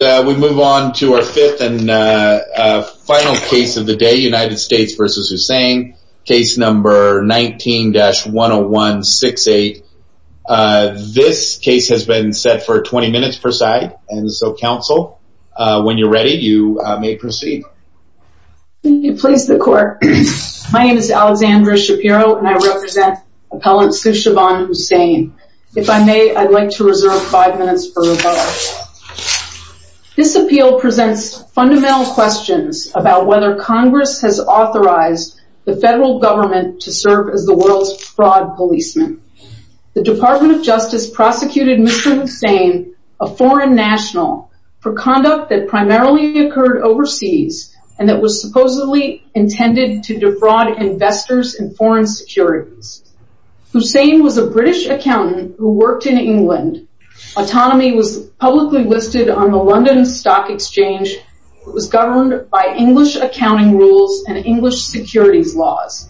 We move on to our fifth and final case of the day, United States v. Hussain, case number 19-10168. This case has been set for 20 minutes per side, and so counsel, when you're ready, you may proceed. Will you please the court. My name is Alexandra Shapiro and I represent appellant Sushovan Hussain. If I may, I'd like to reserve five minutes for rebuttal. This appeal presents fundamental questions about whether Congress has authorized the federal government to serve as the world's fraud policeman. The Department of Justice prosecuted Mr. Hussain, a foreign national, for conduct that primarily occurred overseas and that was supposedly intended to defraud investors in foreign securities. Hussain was a British accountant who worked in England. Autonomy was publicly listed on the London Stock Exchange. It was governed by English accounting rules and English securities laws.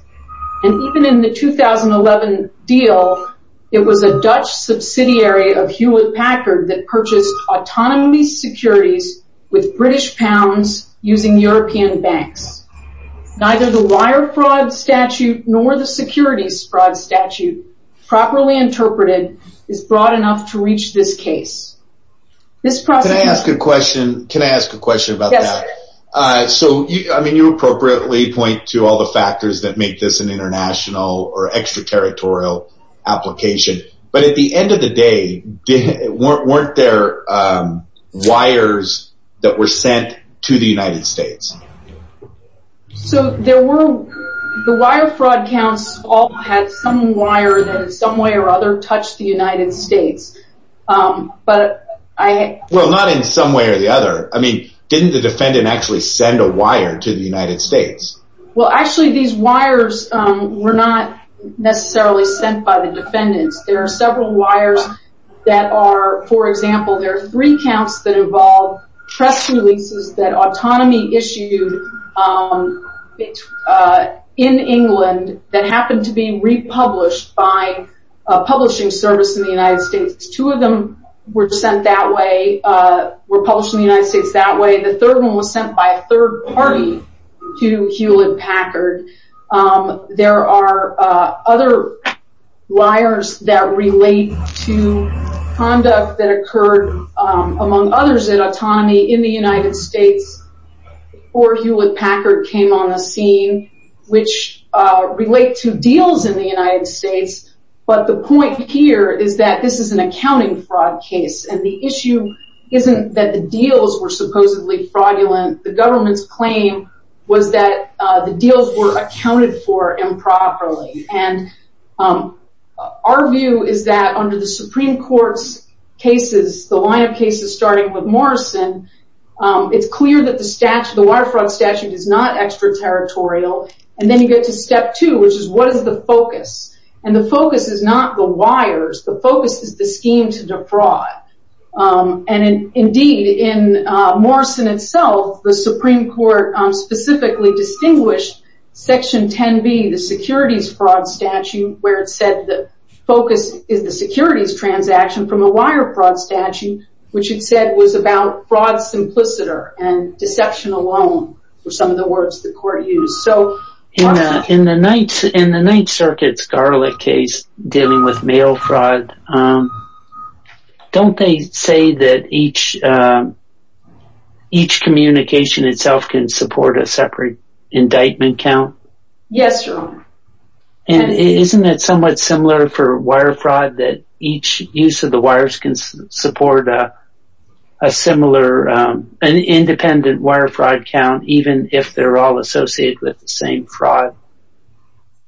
And even in the 2011 deal, it was a Dutch subsidiary of Hewlett-Packard that purchased autonomy securities with British pounds using European banks. Neither the wire fraud statute nor the securities fraud statute, properly interpreted, is broad enough to reach this case. Can I ask a question? Can I ask a question about that? Yes. So, I mean, you appropriately point to all the factors that make this an international or extraterritorial application, but at the end of the day, weren't there wires that were sent to the United States? So, there were, the wire fraud counts all had some wire that in some way or other touched the United States, but I... Well, not in some way or the other. I mean, didn't the defendant actually send a wire to the United States? Well, actually, these wires were not necessarily sent by the defendants. There are several wires that are, for example, there are three counts that involve trust releases that autonomy issued in England that happened to be republished by a publishing service in the United States. Two of them were sent that way, were published in the United States that way. The third one was sent by a third party to Hewlett-Packard. There are other wires that relate to conduct that occurred, among others, at autonomy in the United States or Hewlett-Packard came on the scene, which relate to deals in the United States, but the point here is that this is an accounting fraud case and the issue isn't that the deals were supposedly fraudulent. The government's claim was that the deals were accounted for improperly and our view is that under the Supreme Court's cases, the line of cases starting with Morrison, it's clear that the wire fraud statute is not extraterritorial and then you get to step two, which is what is the focus? The focus is not the wires, the focus is the scheme to defraud. Indeed, in Morrison itself, the Supreme Court specifically distinguished Section 10B, the securities fraud statute, where it said the focus is the securities transaction from a wire fraud statute, which it said was about fraud simpliciter and deception alone were some of the words the court used. In the Ninth Circuit's Garlick case dealing with mail fraud, don't they say that each communication itself can support a separate indictment count? Yes, Your Honor. And isn't it somewhat similar for wire fraud that each use of the wires can support a similar, an independent wire fraud count even if they're all associated with the same fraud?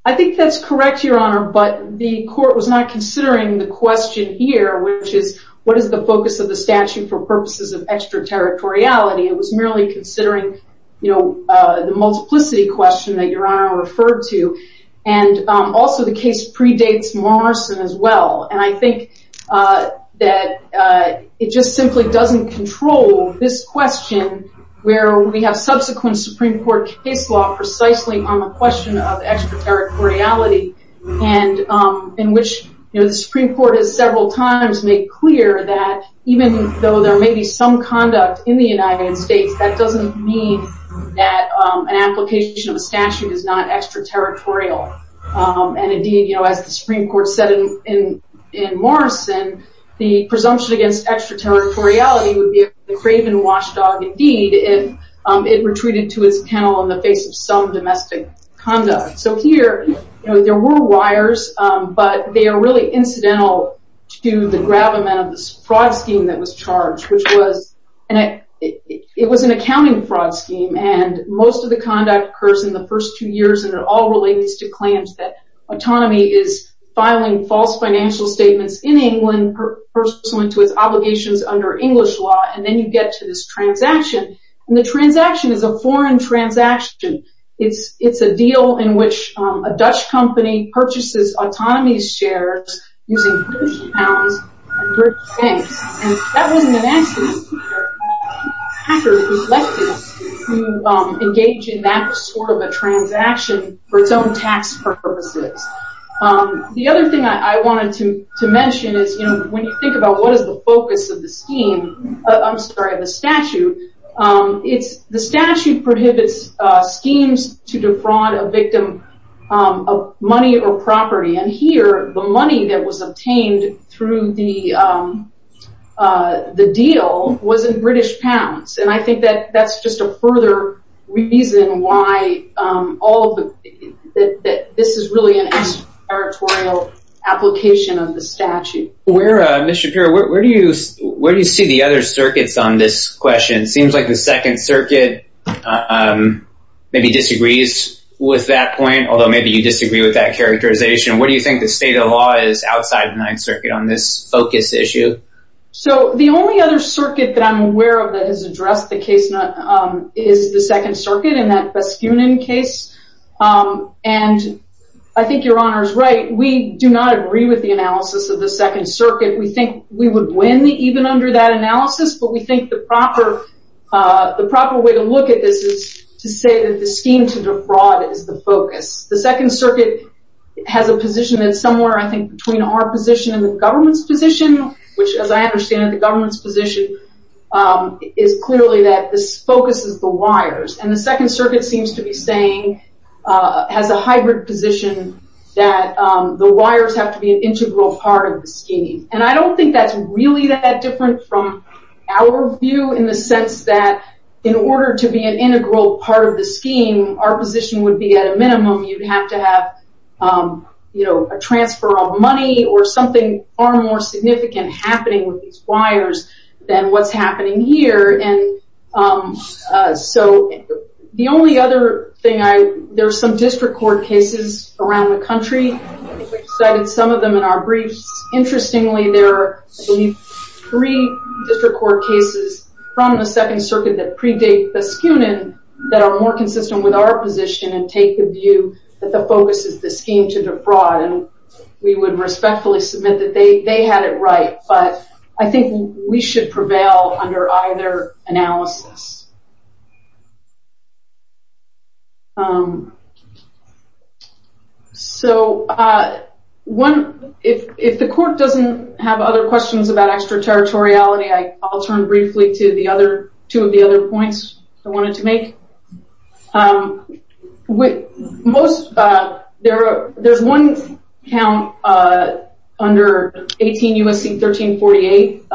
I think that's correct, Your Honor, but the court was not considering the question here, which is what is the focus of the statute for purposes of extraterritoriality? It was merely considering the multiplicity question that Your Honor referred to and also the case predates Morrison as well and I think that it just simply doesn't control this question where we have subsequent Supreme Court case law precisely on the question of extraterritoriality in which the Supreme Court has several times made clear that even though there may be some conduct in the United States, that doesn't mean that an application of a statute is not extraterritorial. And indeed, as the Supreme Court said in Morrison, the presumption against extraterritoriality would be a craven watchdog indeed if it retreated to its kennel in the face of some domestic conduct. So here, there were wires, but they are really incidental to the gravamen of this fraud scheme that was charged, which was an accounting fraud scheme and most of the conduct occurs in the first two years and it all relates to claims that autonomy is filing false financial statements in England pursuant to its obligations under English law and then you get to this transaction and the transaction is a foreign transaction. It's a deal in which a Dutch company purchases autonomy's shares using British pounds and British pence and that wasn't an accident. It was a hacker who selected them to engage in that sort of a transaction for its own tax purposes. The other thing I wanted to mention is when you think about what is the focus of the scheme, I'm sorry, of the statute, the statute prohibits schemes to defraud a victim of money or property and here, the money that was obtained through the deal was in British pounds and I think that's just a further reason why this is really an extraterritorial application of the statute. Where, Ms. Shapiro, where do you see the other circuits on this question? It seems like the Second Circuit maybe disagrees with that point, although maybe you disagree with that characterization. What do you think the state of law is outside the Ninth Circuit on this focus issue? So, the only other circuit that I'm aware of that has addressed the case is the Second Circuit and that Baskunin case and I think Your Honor is right. We do not agree with the analysis of the Second Circuit. We think we would win even under that analysis, but we think the proper way to look at this is to say that the scheme to defraud is the focus. The Second Circuit has a position that's somewhere, I think, between our position and the government's position, which as I understand it, the government's position is clearly that this focuses the wires and the Second Circuit seems to be saying, has a hybrid position that the wires have to be an integral part of the scheme. And I don't think that's really that different from our view in the sense that in order to be an integral part of the scheme, our position would be at a minimum you'd have to have a transfer of money or something far more significant happening with these wires than what's happening here. And so, the only other thing I, there's some district court cases around the country. We've cited some of them in our briefs. Interestingly, there are, I believe, three district court cases from the Second Circuit that predate Baskunin that are more consistent with our position and take the view that the focus is the scheme to defraud. And we would respectfully submit that they had it right, but I think we should prevail under either analysis. So, if the court doesn't have other questions about extraterritoriality, I'll turn briefly to the other, two of the other points I wanted to make. There's one count under 18 U.S.C. 1348,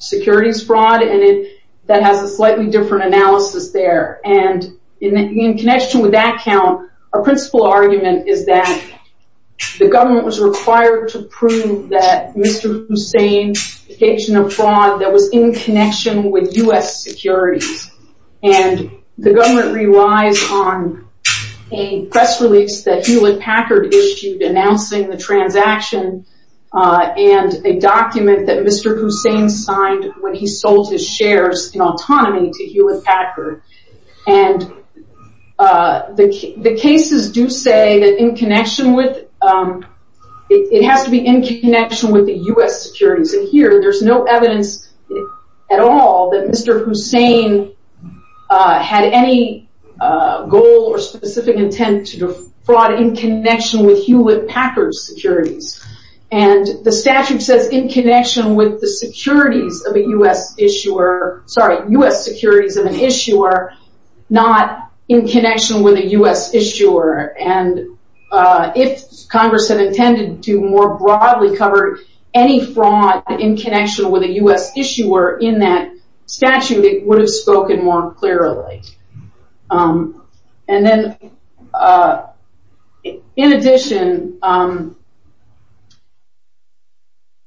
securities fraud, and that has a slightly different analysis there. And in connection with that count, our principal argument is that the government was required to prove that Mr. Hussein's And the government relies on a press release that Hewlett-Packard issued announcing the transaction and a document that Mr. Hussein signed when he sold his shares in autonomy to Hewlett-Packard. And the cases do say that in connection with, it has to be in connection with the U.S. securities. And here, there's no evidence at all that Mr. Hussein had any goal or specific intent to defraud in connection with Hewlett-Packard securities. And the statute says in connection with the securities of a U.S. issuer, sorry, U.S. securities of an issuer, not in connection with a U.S. issuer. And if Congress had intended to more broadly cover any fraud in connection with a U.S. issuer in that statute, it would have spoken more clearly. And then, in addition,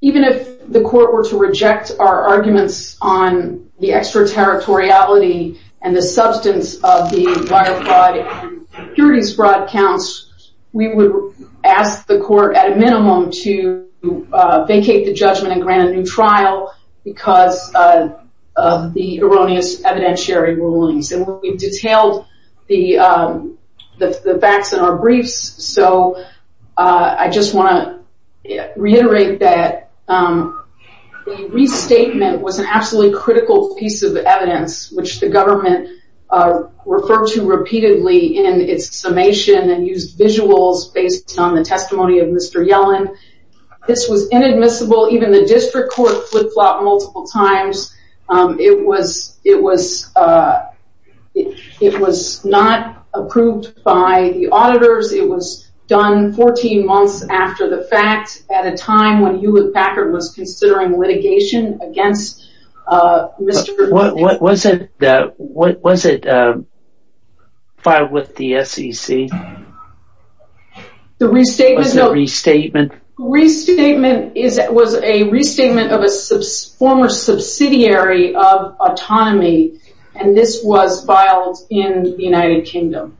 even if the court were to reject our arguments on the extraterritoriality and the substance of the wire fraud and securities fraud counts, we would ask the court, at a minimum, to vacate the judgment and grant a new trial because of the erroneous evidentiary rulings. And we've detailed the facts in our briefs, so I just want to reiterate that the restatement was an absolutely critical piece of evidence, which the government referred to repeatedly in its summation and used visuals based on the testimony of Mr. Yellen. This was inadmissible. Even the district court flip-flopped multiple times. It was not approved by the auditors. It was done 14 months after the fact, at a time when Hewlett-Packard was considering litigation against Mr. Yellen. What was it filed with the SEC? The restatement was a restatement of a former subsidiary of Autonomy, and this was filed in the United Kingdom.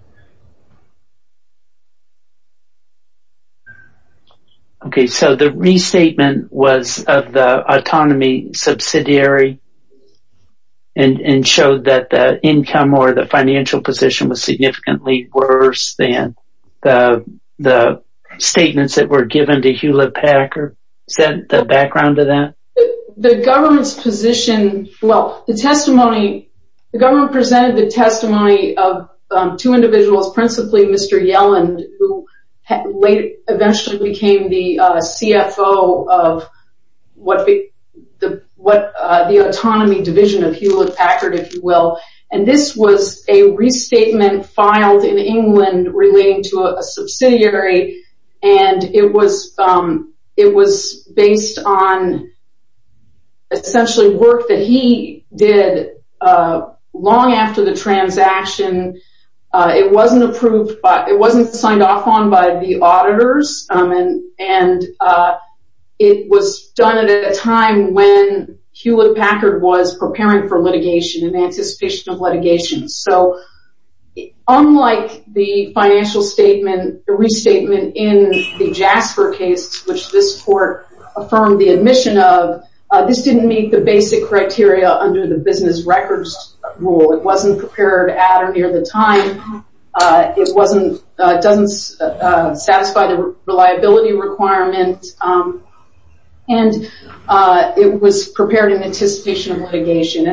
Okay, so the restatement was of the Autonomy subsidiary and showed that the income or the financial position was significantly worse than the statements that were given to Hewlett-Packard. Is that the background to that? The government presented the testimony of two individuals, principally Mr. Yellen, who eventually became the CFO of the Autonomy division of Hewlett-Packard, if you will. This was a restatement filed in England relating to a subsidiary, and it was based on essentially work that he did long after the transaction. It wasn't approved, it wasn't signed off on by the auditors, and it was done at a time when Hewlett-Packard was preparing for litigation, in anticipation of litigation. Unlike the financial restatement in the Jasper case, which this court affirmed the admission of, this didn't meet the basic criteria under the business records rule. It wasn't prepared at or near the time, it doesn't satisfy the reliability requirement, and it was prepared in anticipation of litigation.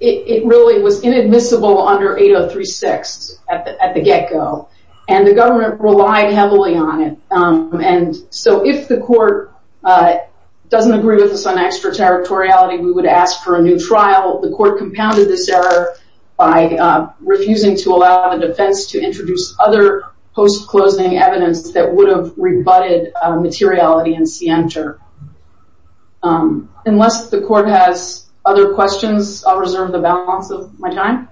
It really was inadmissible under 8036 at the get-go, and the government relied heavily on it. If the court doesn't agree with us on extraterritoriality, we would ask for a new trial. The court compounded this error by refusing to allow the defense to introduce other post-closing evidence that would have rebutted materiality and scienter. Unless the court has other questions, I'll reserve the balance of my time.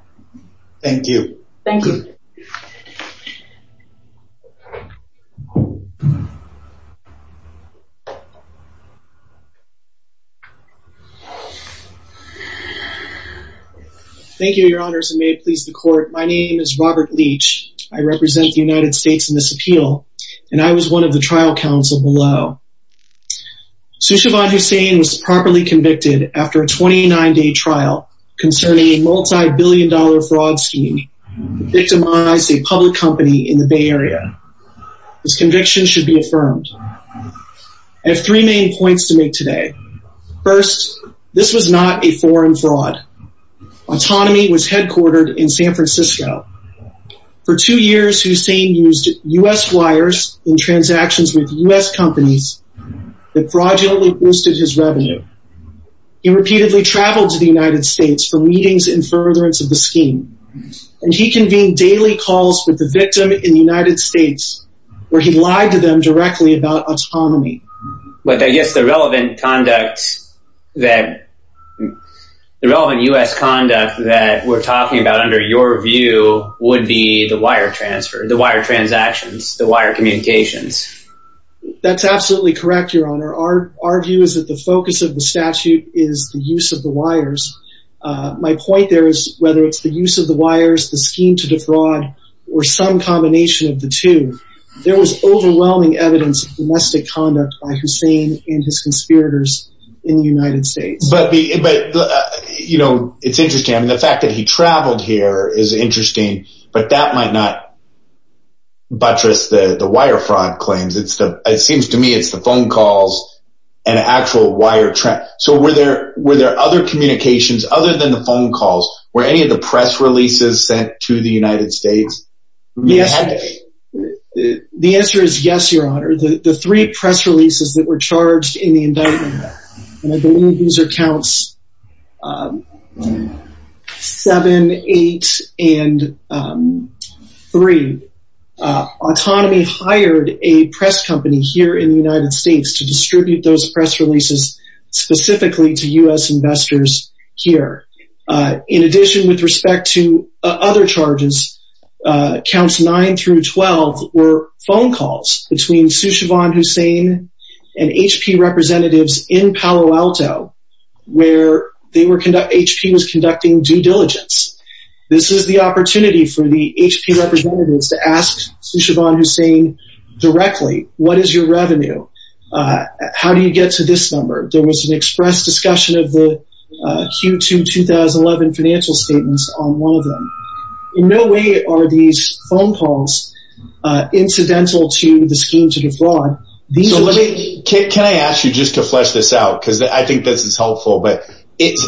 Thank you. Thank you. Thank you, your honors, and may it please the court. My name is Robert Leach. I represent the United States in this appeal, and I was one of the trial counsel below. Soushevan Hussain was properly convicted after a 29-day trial concerning a multi-billion dollar fraud scheme that victimized a public company in the Bay Area. His conviction should be affirmed. I have three main points to make today. First, this was not a foreign fraud. Autonomy was headquartered in San Francisco. For two years, Hussain used U.S. wires in transactions with U.S. companies that fraudulently boosted his revenue. He repeatedly traveled to the United States for meetings and furtherance of the scheme, and he convened daily calls with the victim in the United States where he lied to them directly about autonomy. But I guess the relevant U.S. conduct that we're talking about under your view would be the wire transfer, the wire transactions, the wire communications. That's absolutely correct, your honor. Our view is that the focus of the statute is the use of the wires. My point there is whether it's the use of the wires, the scheme to defraud, or some combination of the two, there was overwhelming evidence of domestic conduct by Hussain and his conspirators in the United States. But, you know, it's interesting. I mean, the fact that he traveled here is interesting, but that might not buttress the wire fraud claims. It seems to me it's the phone calls and actual wire transactions. So were there other communications other than the phone calls? Were any of the press releases sent to the United States? The answer is yes, your honor. The three press releases that were charged in the indictment, and I believe these are counts 7, 8, and 3. Autonomy hired a press company here in the United States to distribute those press releases specifically to U.S. investors here. In addition, with respect to other charges, counts 9 through 12 were phone calls between Soushevan Hussain and HP representatives in Palo Alto, where HP was conducting due diligence. This is the opportunity for the HP representatives to ask Soushevan Hussain directly, what is your revenue? How do you get to this number? There was an express discussion of the Q2 2011 financial statements on one of them. In no way are these phone calls incidental to the scheme to defraud. Can I ask you just to flesh this out? Because I think this is helpful, but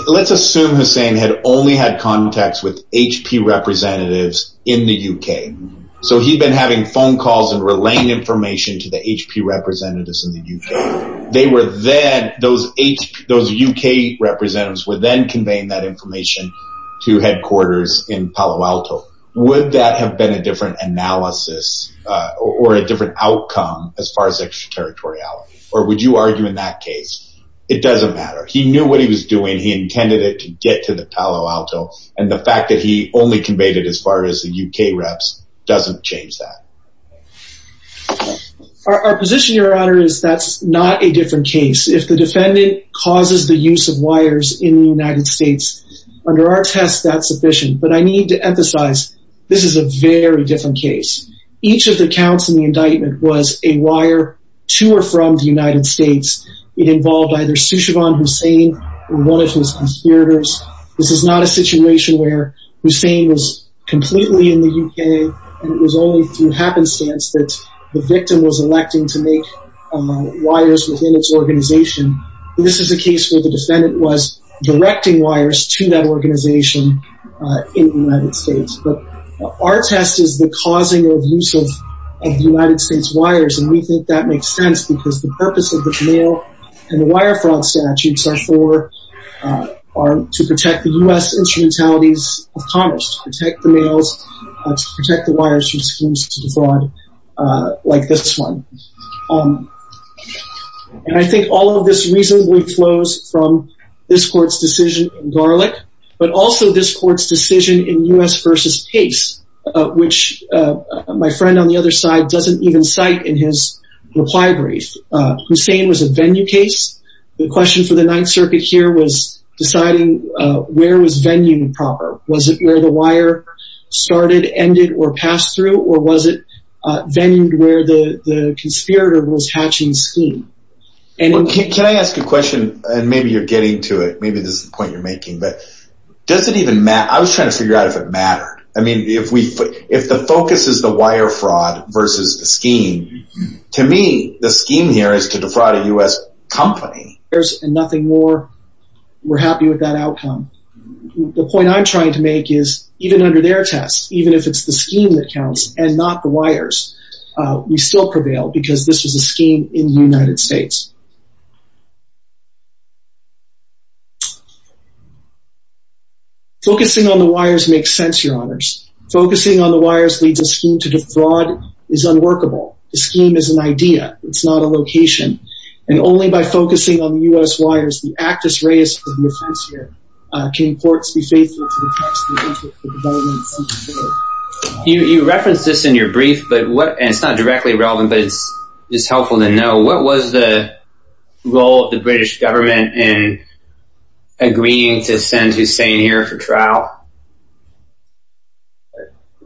let's assume Hussain had only had contacts with HP representatives in the U.K. So he'd been having phone calls and relaying information to the HP representatives in the U.K. They were then, those U.K. representatives were then conveying that information to headquarters in Palo Alto. Would that have been a different analysis or a different outcome as far as extraterritoriality, or would you argue in that case? It doesn't matter. He knew what he was doing. He intended it to get to the Palo Alto, and the fact that he only conveyed it as far as the U.K. reps doesn't change that. Our position, Your Honor, is that's not a different case. If the defendant causes the use of wires in the United States, under our test, that's sufficient. But I need to emphasize, this is a very different case. Each of the counts in the indictment was a wire to or from the United States. It involved either Sushivan Hussain or one of his conspirators. This is not a situation where Hussain was completely in the U.K., and it was only through happenstance that the victim was electing to make wires within its organization. This is a case where the defendant was directing wires to that organization in the United States. But our test is the causing of use of the United States wires, and we think that makes sense because the purpose of the mail and wire fraud statutes are to protect the U.S. instrumentalities of commerce, to protect the mails, to protect the wires from schemes of fraud like this one. And I think all of this reasonably flows from this court's decision in Garlick, but also this court's decision in U.S. v. Pace, which my friend on the other side doesn't even cite in his reply brief. Hussain was a venue case. The question for the Ninth Circuit here was deciding where was venue proper. Was it where the wire started, ended, or passed through, or was it venue where the conspirator was hatching scheme? Can I ask a question? And maybe you're getting to it. Maybe this is the point you're making, but does it even matter? I was trying to figure out if it mattered. I mean, if the focus is the wire fraud versus the scheme, to me, the scheme here is to defraud a U.S. company. There's nothing more. We're happy with that outcome. The point I'm trying to make is even under their tests, even if it's the scheme that counts and not the wires, we still prevail because this was a scheme in the United States. Focusing on the wires makes sense, Your Honors. Focusing on the wires leads a scheme to defraud is unworkable. The scheme is an idea. It's not a location. And only by focusing on the U.S. wires, the act is raised for the defense here. Can courts be faithful to the text of the government's secret code? You referenced this in your brief, and it's not directly relevant, but it's helpful to know. What was the role of the British government in agreeing to send Hussein here for trial?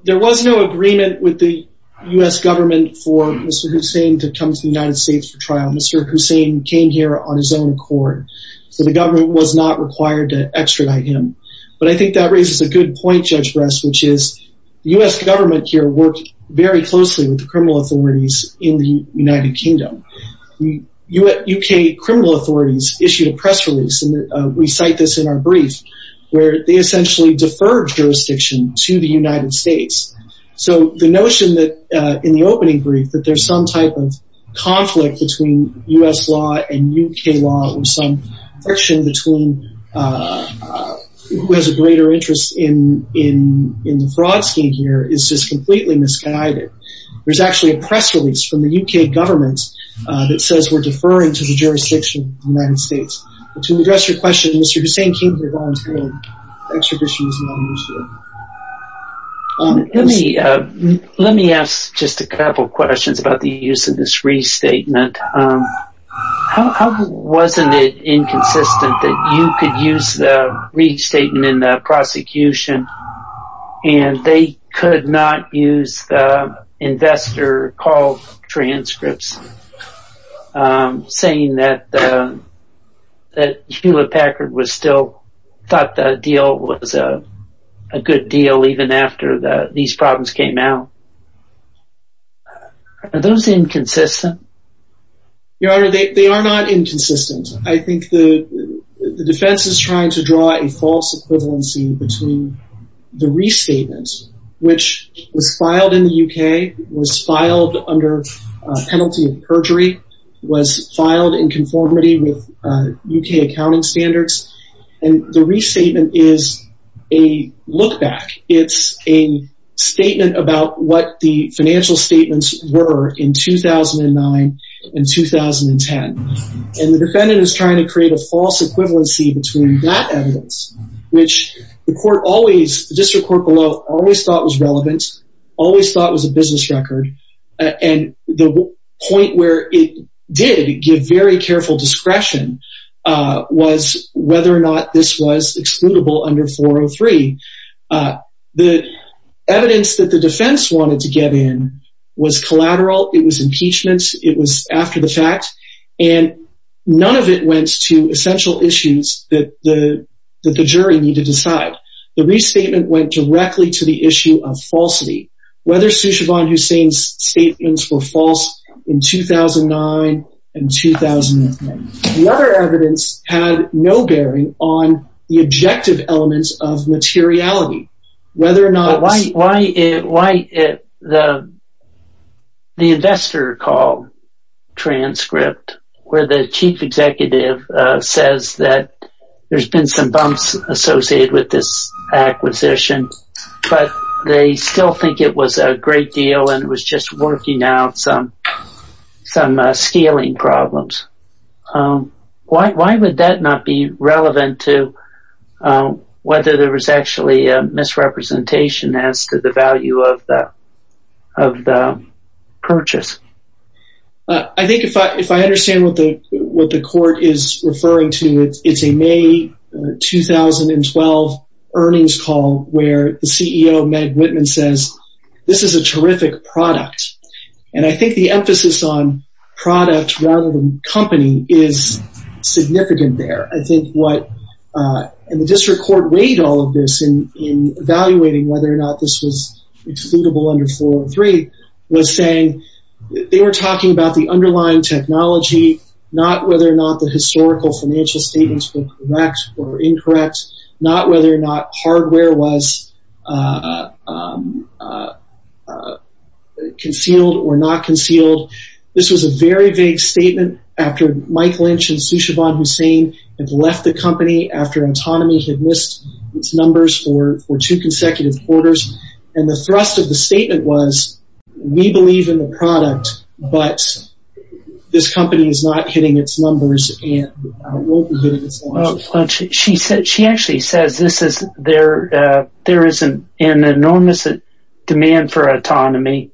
There was no agreement with the U.S. government for Mr. Hussein to come to the United States for trial. Mr. Hussein came here on his own accord, so the government was not required to extradite him. But I think that raises a good point, Judge Brest, which is the U.S. government here worked very closely with the criminal authorities in the United Kingdom. U.K. criminal authorities issued a press release, and we cite this in our brief, where they essentially deferred jurisdiction to the United States. So the notion that in the opening brief that there's some type of conflict between U.S. law and U.K. law or some friction between who has a greater interest in the fraud scheme here is just completely misguided. There's actually a press release from the U.K. government that says we're deferring to the jurisdiction of the United States. To address your question, Mr. Hussein came here voluntarily, extradition was not an issue. Let me ask just a couple questions about the use of this restatement. Wasn't it inconsistent that you could use the restatement in the prosecution, and they could not use the investor call transcripts, saying that Hewlett Packard thought the deal was a good deal even after these problems came out? Are those inconsistent? Your Honor, they are not inconsistent. I think the defense is trying to draw a false equivalency between the restatement, which was filed in the U.K., was filed under penalty of perjury, was filed in conformity with U.K. accounting standards, and the restatement is a look back. It's a statement about what the financial statements were in 2009 and 2010. And the defendant is trying to create a false equivalency between that evidence, which the district court below always thought was relevant, always thought was a business record, and the point where it did give very careful discretion was whether or not this was excludable under 403. The evidence that the defense wanted to get in was collateral. It was impeachments. It was after the fact, and none of it went to essential issues that the jury needed to decide. The restatement went directly to the issue of falsity, whether Soushevan Hussain's statements were false in 2009 and 2010. The other evidence had no bearing on the objective elements of materiality, whether or not this— Why the investor called transcript where the chief executive says that there's been some bumps associated with this acquisition, but they still think it was a great deal and it was just working out some scaling problems. Why would that not be relevant to whether there was actually a misrepresentation as to the value of the purchase? I think if I understand what the court is referring to, it's a May 2012 earnings call where the CEO, Meg Whitman, says, this is a terrific product, and I think the emphasis on product rather than company is significant there. I think what—and the district court weighed all of this in evaluating whether or not this was excludable under 403 was saying they were talking about the underlying technology, not whether or not the historical financial statements were correct or incorrect, not whether or not hardware was concealed or not concealed. This was a very vague statement after Mike Lynch and Soushevan Hussain had left the company after Autonomy had missed its numbers for two consecutive quarters, and the thrust of the statement was we believe in the product, but this company is not hitting its numbers and won't be hitting its numbers. She actually says there is an enormous demand for Autonomy.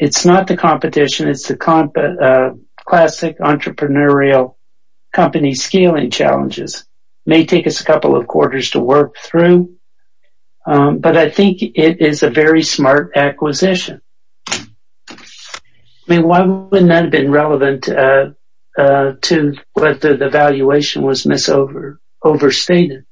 It's not the competition. It's the classic entrepreneurial company scaling challenges. It may take us a couple of quarters to work through, but I think it is a very smart acquisition. I mean, why wouldn't that have been relevant to whether the valuation was overstated?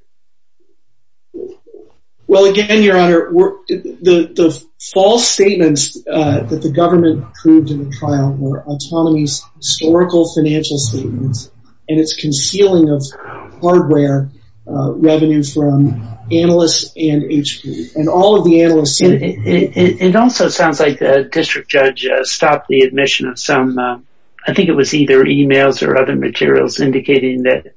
Well, again, Your Honor, the false statements that the government proved in the trial were Autonomy's historical financial statements and its concealing of hardware revenue from analysts and HP, and all of the analysts said it. It also sounds like the district judge stopped the admission of some, I think it was either e-mails or other materials, indicating that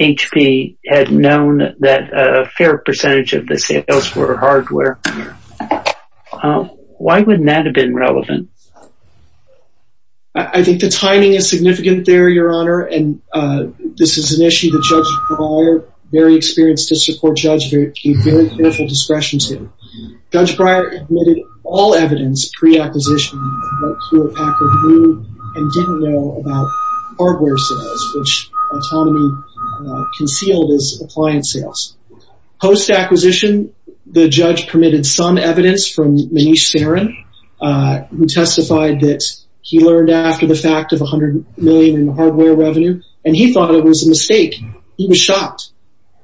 HP had known that a fair percentage of the sales were hardware. Why wouldn't that have been relevant? I think the timing is significant there, Your Honor, and this is an issue that Judge Breyer, very experienced district court judge, gave very careful discretion to. Judge Breyer admitted all evidence pre-acquisition of what Hewlett-Packard knew and didn't know about hardware sales, which Autonomy concealed as appliance sales. Post-acquisition, the judge permitted some evidence from Manish Saran, who testified that he learned after the fact of $100 million in hardware revenue, and he thought it was a mistake. He was shocked.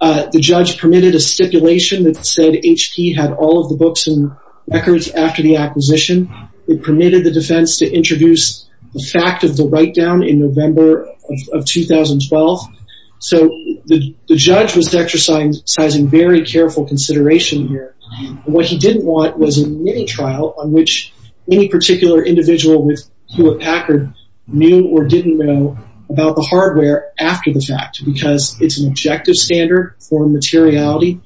The judge permitted a stipulation that said HP had all of the books and records after the acquisition. It permitted the defense to introduce the fact of the write-down in November of 2012. So the judge was exercising very careful consideration here. What he didn't want was a mini-trial on which any particular individual with Hewlett-Packard knew or didn't know about the hardware after the fact, because it's an objective standard for materiality.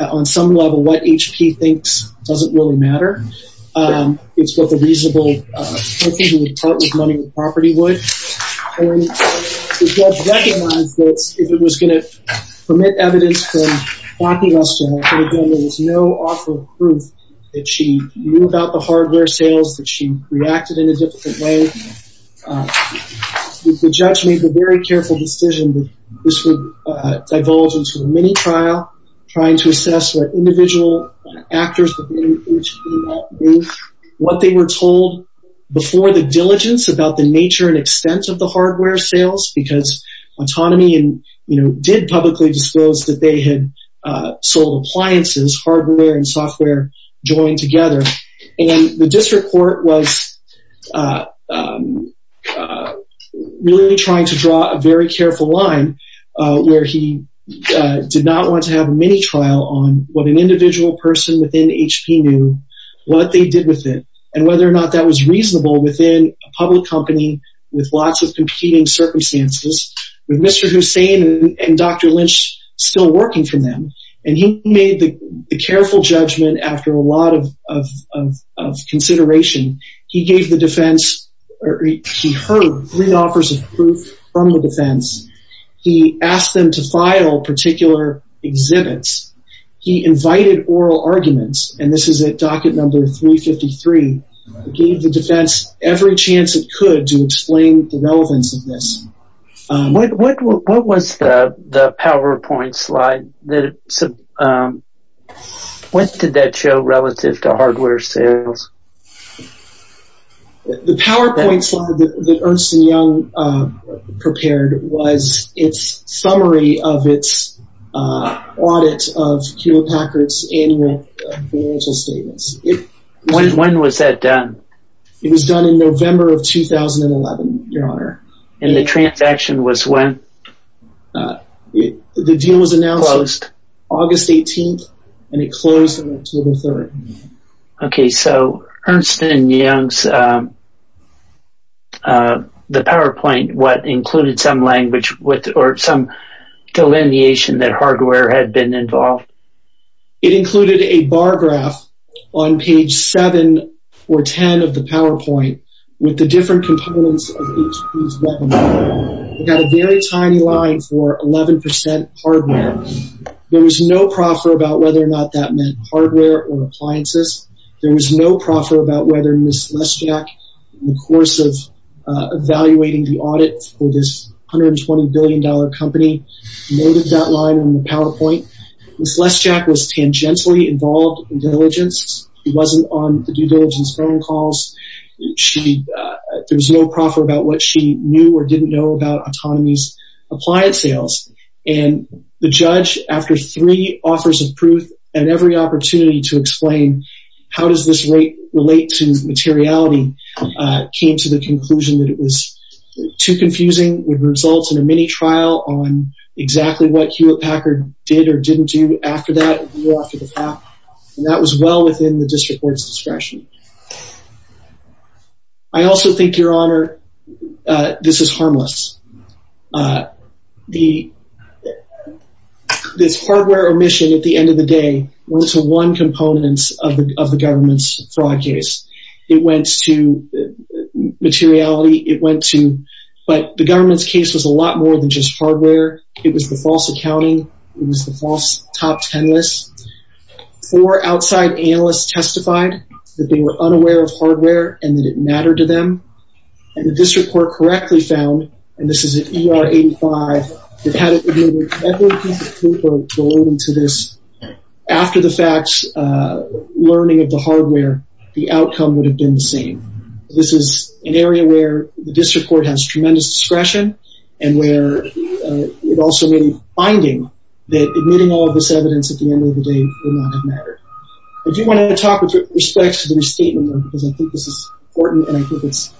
On some level, what HP thinks doesn't really matter. It's what the reasonable person who would part with money with property would. The judge recognized that if it was going to permit evidence from Backey Lester, there was no offer of proof that she knew about the hardware sales, that she reacted in a different way. The judge made the very careful decision that this would divulge into a mini-trial, trying to assess what individual actors within HP knew, what they were told before the diligence about the nature and extent of the hardware sales because Autonomy did publicly disclose that they had sold appliances, hardware and software joined together. The district court was really trying to draw a very careful line where he did not want to have a mini-trial on what an individual person within HP knew, what they did with it, and whether or not that was reasonable within a public company with lots of competing circumstances. With Mr. Hussein and Dr. Lynch still working for them, and he made the careful judgment after a lot of consideration. He gave the defense, or he heard three offers of proof from the defense. He asked them to file particular exhibits. He invited oral arguments, and this is at docket number 353. He gave the defense every chance it could to explain the relevance of this. What was the PowerPoint slide? What did that show relative to hardware sales? The PowerPoint slide that Ernst & Young prepared was its summary of its audit of Hewlett-Packard's annual financial statements. When was that done? It was done in November of 2011, Your Honor. And the transaction was when? The deal was announced August 18th, and it closed on October 3rd. Okay, so Ernst & Young's PowerPoint, what included some language or some delineation that hardware had been involved? It included a bar graph on page 7 or 10 of the PowerPoint with the different components of each piece of equipment. It had a very tiny line for 11% hardware. There was no proffer about whether or not that meant hardware or appliances. There was no proffer about whether Ms. Leschak, in the course of evaluating the audit for this $120 billion company, noted that line in the PowerPoint. Ms. Leschak was tangentially involved in diligence. She wasn't on the due diligence phone calls. There was no proffer about what she knew or didn't know about Autonomy's appliance sales. And the judge, after three offers of proof and every opportunity to explain how does this relate to materiality, came to the conclusion that it was too confusing, would result in a mini trial on exactly what Hewlett Packard did or didn't do after that. And that was well within the district court's discretion. I also think, Your Honor, this is harmless. This hardware omission, at the end of the day, went to one component of the government's fraud case. It went to materiality. It went to, but the government's case was a lot more than just hardware. It was the false accounting. It was the false top ten list. Four outside analysts testified that they were unaware of hardware and that it mattered to them. And the district court correctly found, and this is an ER-85, it had every piece of paper belonging to this. After the facts, learning of the hardware, the outcome would have been the same. This is an area where the district court has tremendous discretion and where it also made a finding that admitting all of this evidence at the end of the day would not have mattered. I do want to talk with respect to the restatement, though, because I think this is important and I think it's,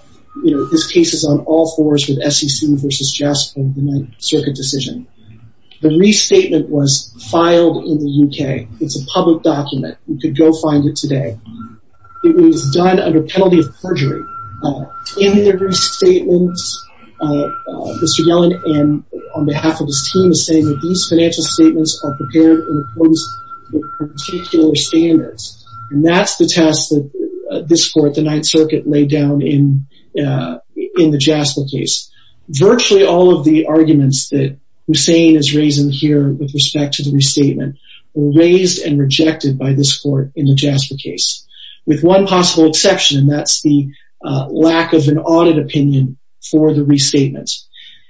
you know, this case is on all fours with SEC versus JASPA and the Ninth Circuit decision. The restatement was filed in the UK. It's a public document. You could go find it today. It was done under penalty of perjury. In the restatement, Mr. Yellen, on behalf of his team, is saying that these financial statements are prepared in accordance with particular standards. And that's the test that this court, the Ninth Circuit, laid down in the JASPA case. Virtually all of the arguments that Hussein is raising here with respect to the restatement were raised and rejected by this court in the JASPA case, with one possible exception, and that's the lack of an audit opinion for the restatement.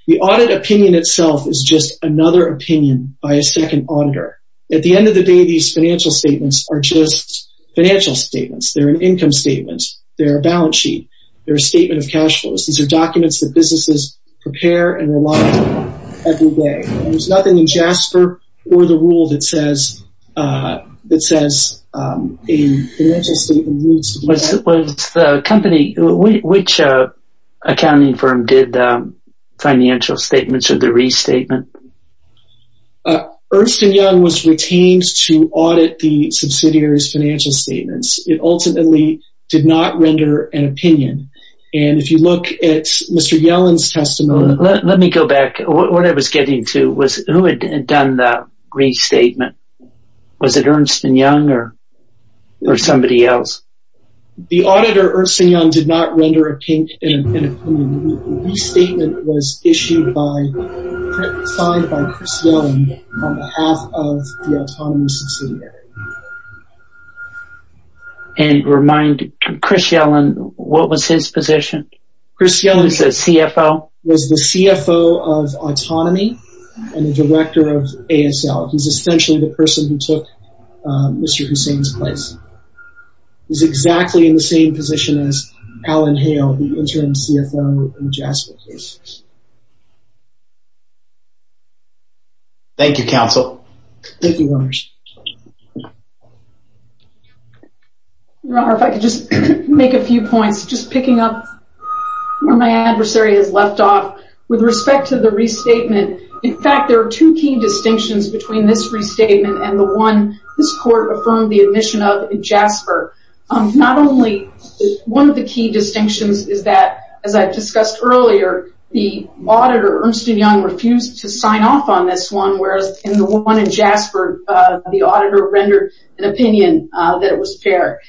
The audit opinion itself is just another opinion by a second auditor. At the end of the day, these financial statements are just financial statements. They're an income statement. They're a balance sheet. They're a statement of cash flows. These are documents that businesses prepare and rely on every day. There's nothing in JASPA or the rule that says a financial statement needs to be added. Which accounting firm did the financial statements or the restatement? Ernst & Young was retained to audit the subsidiary's financial statements. It ultimately did not render an opinion. And if you look at Mr. Yellen's testimony- Let me go back. What I was getting to was who had done the restatement? Was it Ernst & Young or somebody else? The auditor, Ernst & Young, did not render an opinion. The restatement was issued by, signed by Chris Yellen on behalf of the autonomous subsidiary. And remind Chris Yellen, what was his position? Chris Yellen is the CFO. He was the CFO of Autonomy and the director of ASL. He's essentially the person who took Mr. Hussain's place. He's exactly in the same position as Alan Hale, the interim CFO in the JASPA case. Thank you, counsel. Thank you, Your Honor. Your Honor, if I could just make a few points. Just picking up where my adversary has left off. With respect to the restatement, in fact, there are two key distinctions between this restatement and the one this court affirmed the admission of in JASPER. Not only one of the key distinctions is that, as I discussed earlier, the auditor, Ernst & Young, refused to sign off on this one, whereas in the one in JASPER, the auditor rendered an opinion that it was fair.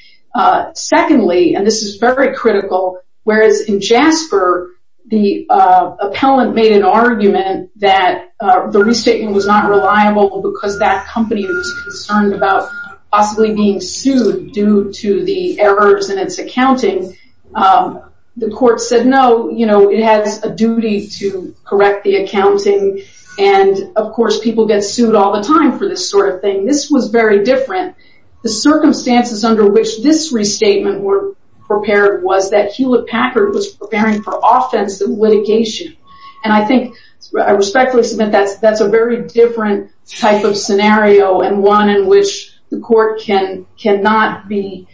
Secondly, and this is very critical, whereas in JASPER, the appellant made an argument that the restatement was not reliable because that company was concerned about possibly being sued due to the errors in its accounting. The court said, no, you know, it has a duty to correct the accounting. And, of course, people get sued all the time for this sort of thing. This was very different. The circumstances under which this restatement was prepared was that Hewlett-Packard was preparing for offense litigation. And I think, I respectfully submit, that's a very different type of scenario and one in which the court cannot be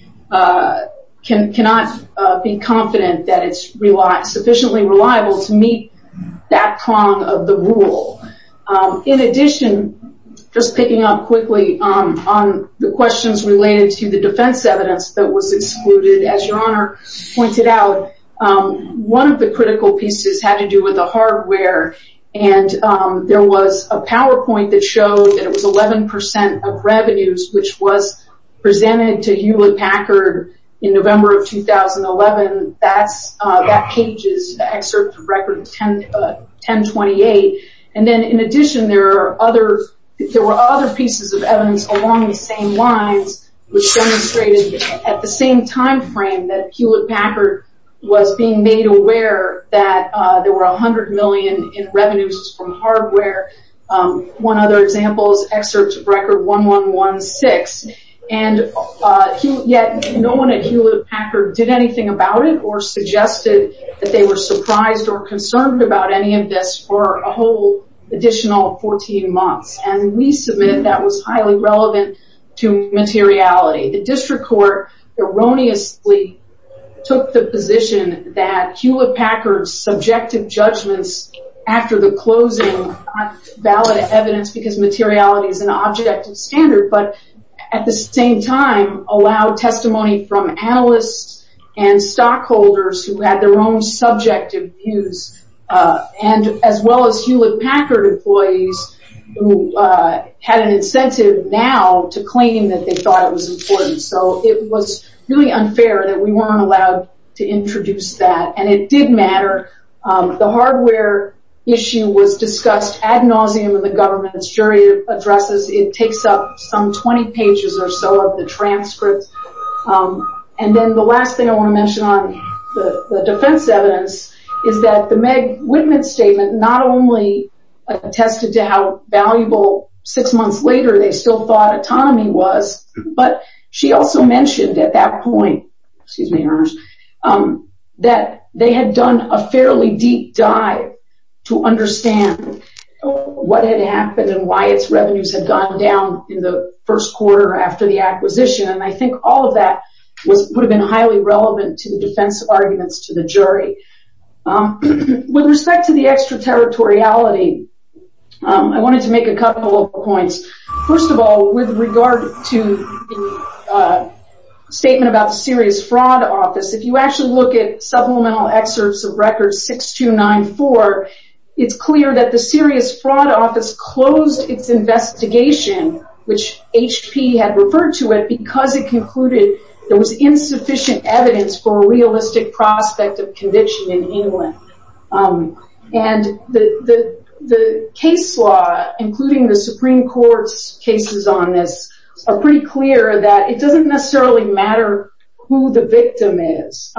confident that it's sufficiently reliable to meet that prong of the rule. In addition, just picking up quickly on the questions related to the defense evidence that was excluded, as Your Honor pointed out, one of the critical pieces had to do with the hardware. And there was a PowerPoint that showed that it was 11% of revenues, which was presented to Hewlett-Packard in November of 2011. That page is the excerpt of record 1028. And then, in addition, there were other pieces of evidence along the same lines which demonstrated at the same time frame that Hewlett-Packard was being made aware that there were $100 million in revenues from hardware. One other example is excerpt of record 1116. And yet, no one at Hewlett-Packard did anything about it or suggested that they were surprised or concerned about any of this for a whole additional 14 months. And we submitted that was highly relevant to materiality. The district court erroneously took the position that Hewlett-Packard's subjective judgments after the closing are not valid evidence because materiality is an objective standard. But at the same time, allow testimony from analysts and stockholders who had their own subjective views, and as well as Hewlett-Packard employees who had an incentive now to claim that they thought it was important. So it was really unfair that we weren't allowed to introduce that. And it did matter. The hardware issue was discussed ad nauseum in the government's jury addresses. It takes up some 20 pages or so of the transcripts. And then the last thing I want to mention on the defense evidence is that the Meg Whitman statement not only attested to how valuable six months later they still thought autonomy was, but she also mentioned at that point that they had done a fairly deep dive to understand what had happened and why its revenues had gone down in the first quarter after the acquisition. And I think all of that would have been highly relevant to the defense arguments to the jury. With respect to the extraterritoriality, I wanted to make a couple of points. First of all, with regard to the statement about the serious fraud office, if you actually look at supplemental excerpts of records 6294, it's clear that the serious fraud office closed its investigation, which HP had referred to it because it concluded there was insufficient evidence for a realistic prospect of conviction in England. And the case law, including the Supreme Court's cases on this, are pretty clear that it doesn't necessarily matter who the victim is.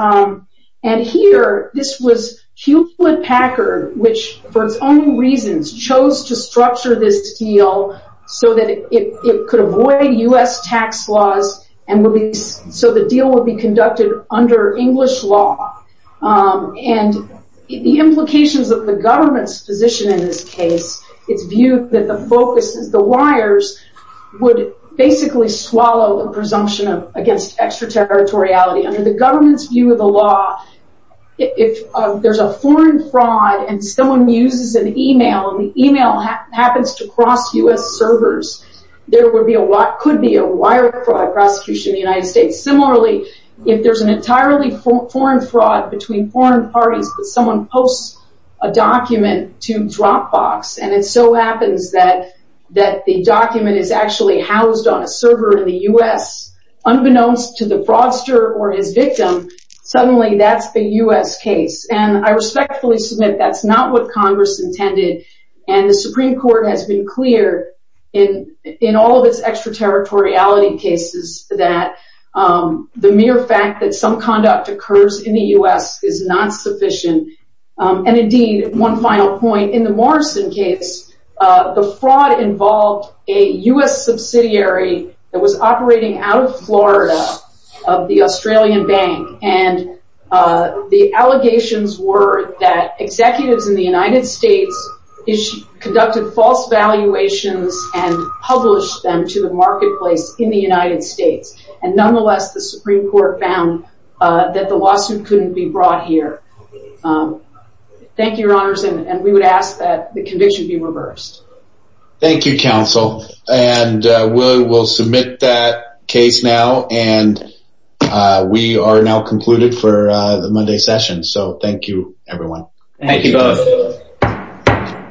And here, this was Hewlett-Packard, which for its own reasons, chose to structure this deal so that it could avoid U.S. tax laws and so the deal would be conducted under English law. And the implications of the government's position in this case, it's viewed that the focus is the wires would basically swallow the presumption against extraterritoriality. Under the government's view of the law, if there's a foreign fraud and someone uses an email and the email happens to cross U.S. servers, there could be a wire fraud prosecution in the United States. Similarly, if there's an entirely foreign fraud between foreign parties but someone posts a document to Dropbox and it so happens that the document is actually housed on a server in the U.S., unbeknownst to the fraudster or his victim, suddenly that's the U.S. case. And I respectfully submit that's not what Congress intended, and the Supreme Court has been clear in all of its extraterritoriality cases that the mere fact that some conduct occurs in the U.S. is not sufficient. And indeed, one final point, in the Morrison case, the fraud involved a U.S. subsidiary that was operating out of Florida, of the Australian bank, and the allegations were that executives in the United States conducted false valuations and published them to the marketplace in the United States. And nonetheless, the Supreme Court found that the lawsuit couldn't be brought here. Thank you, Your Honors, and we would ask that the conviction be reversed. Thank you, Counsel. And we'll submit that case now, and we are now concluded for the Monday session. So thank you, everyone. Thank you, both.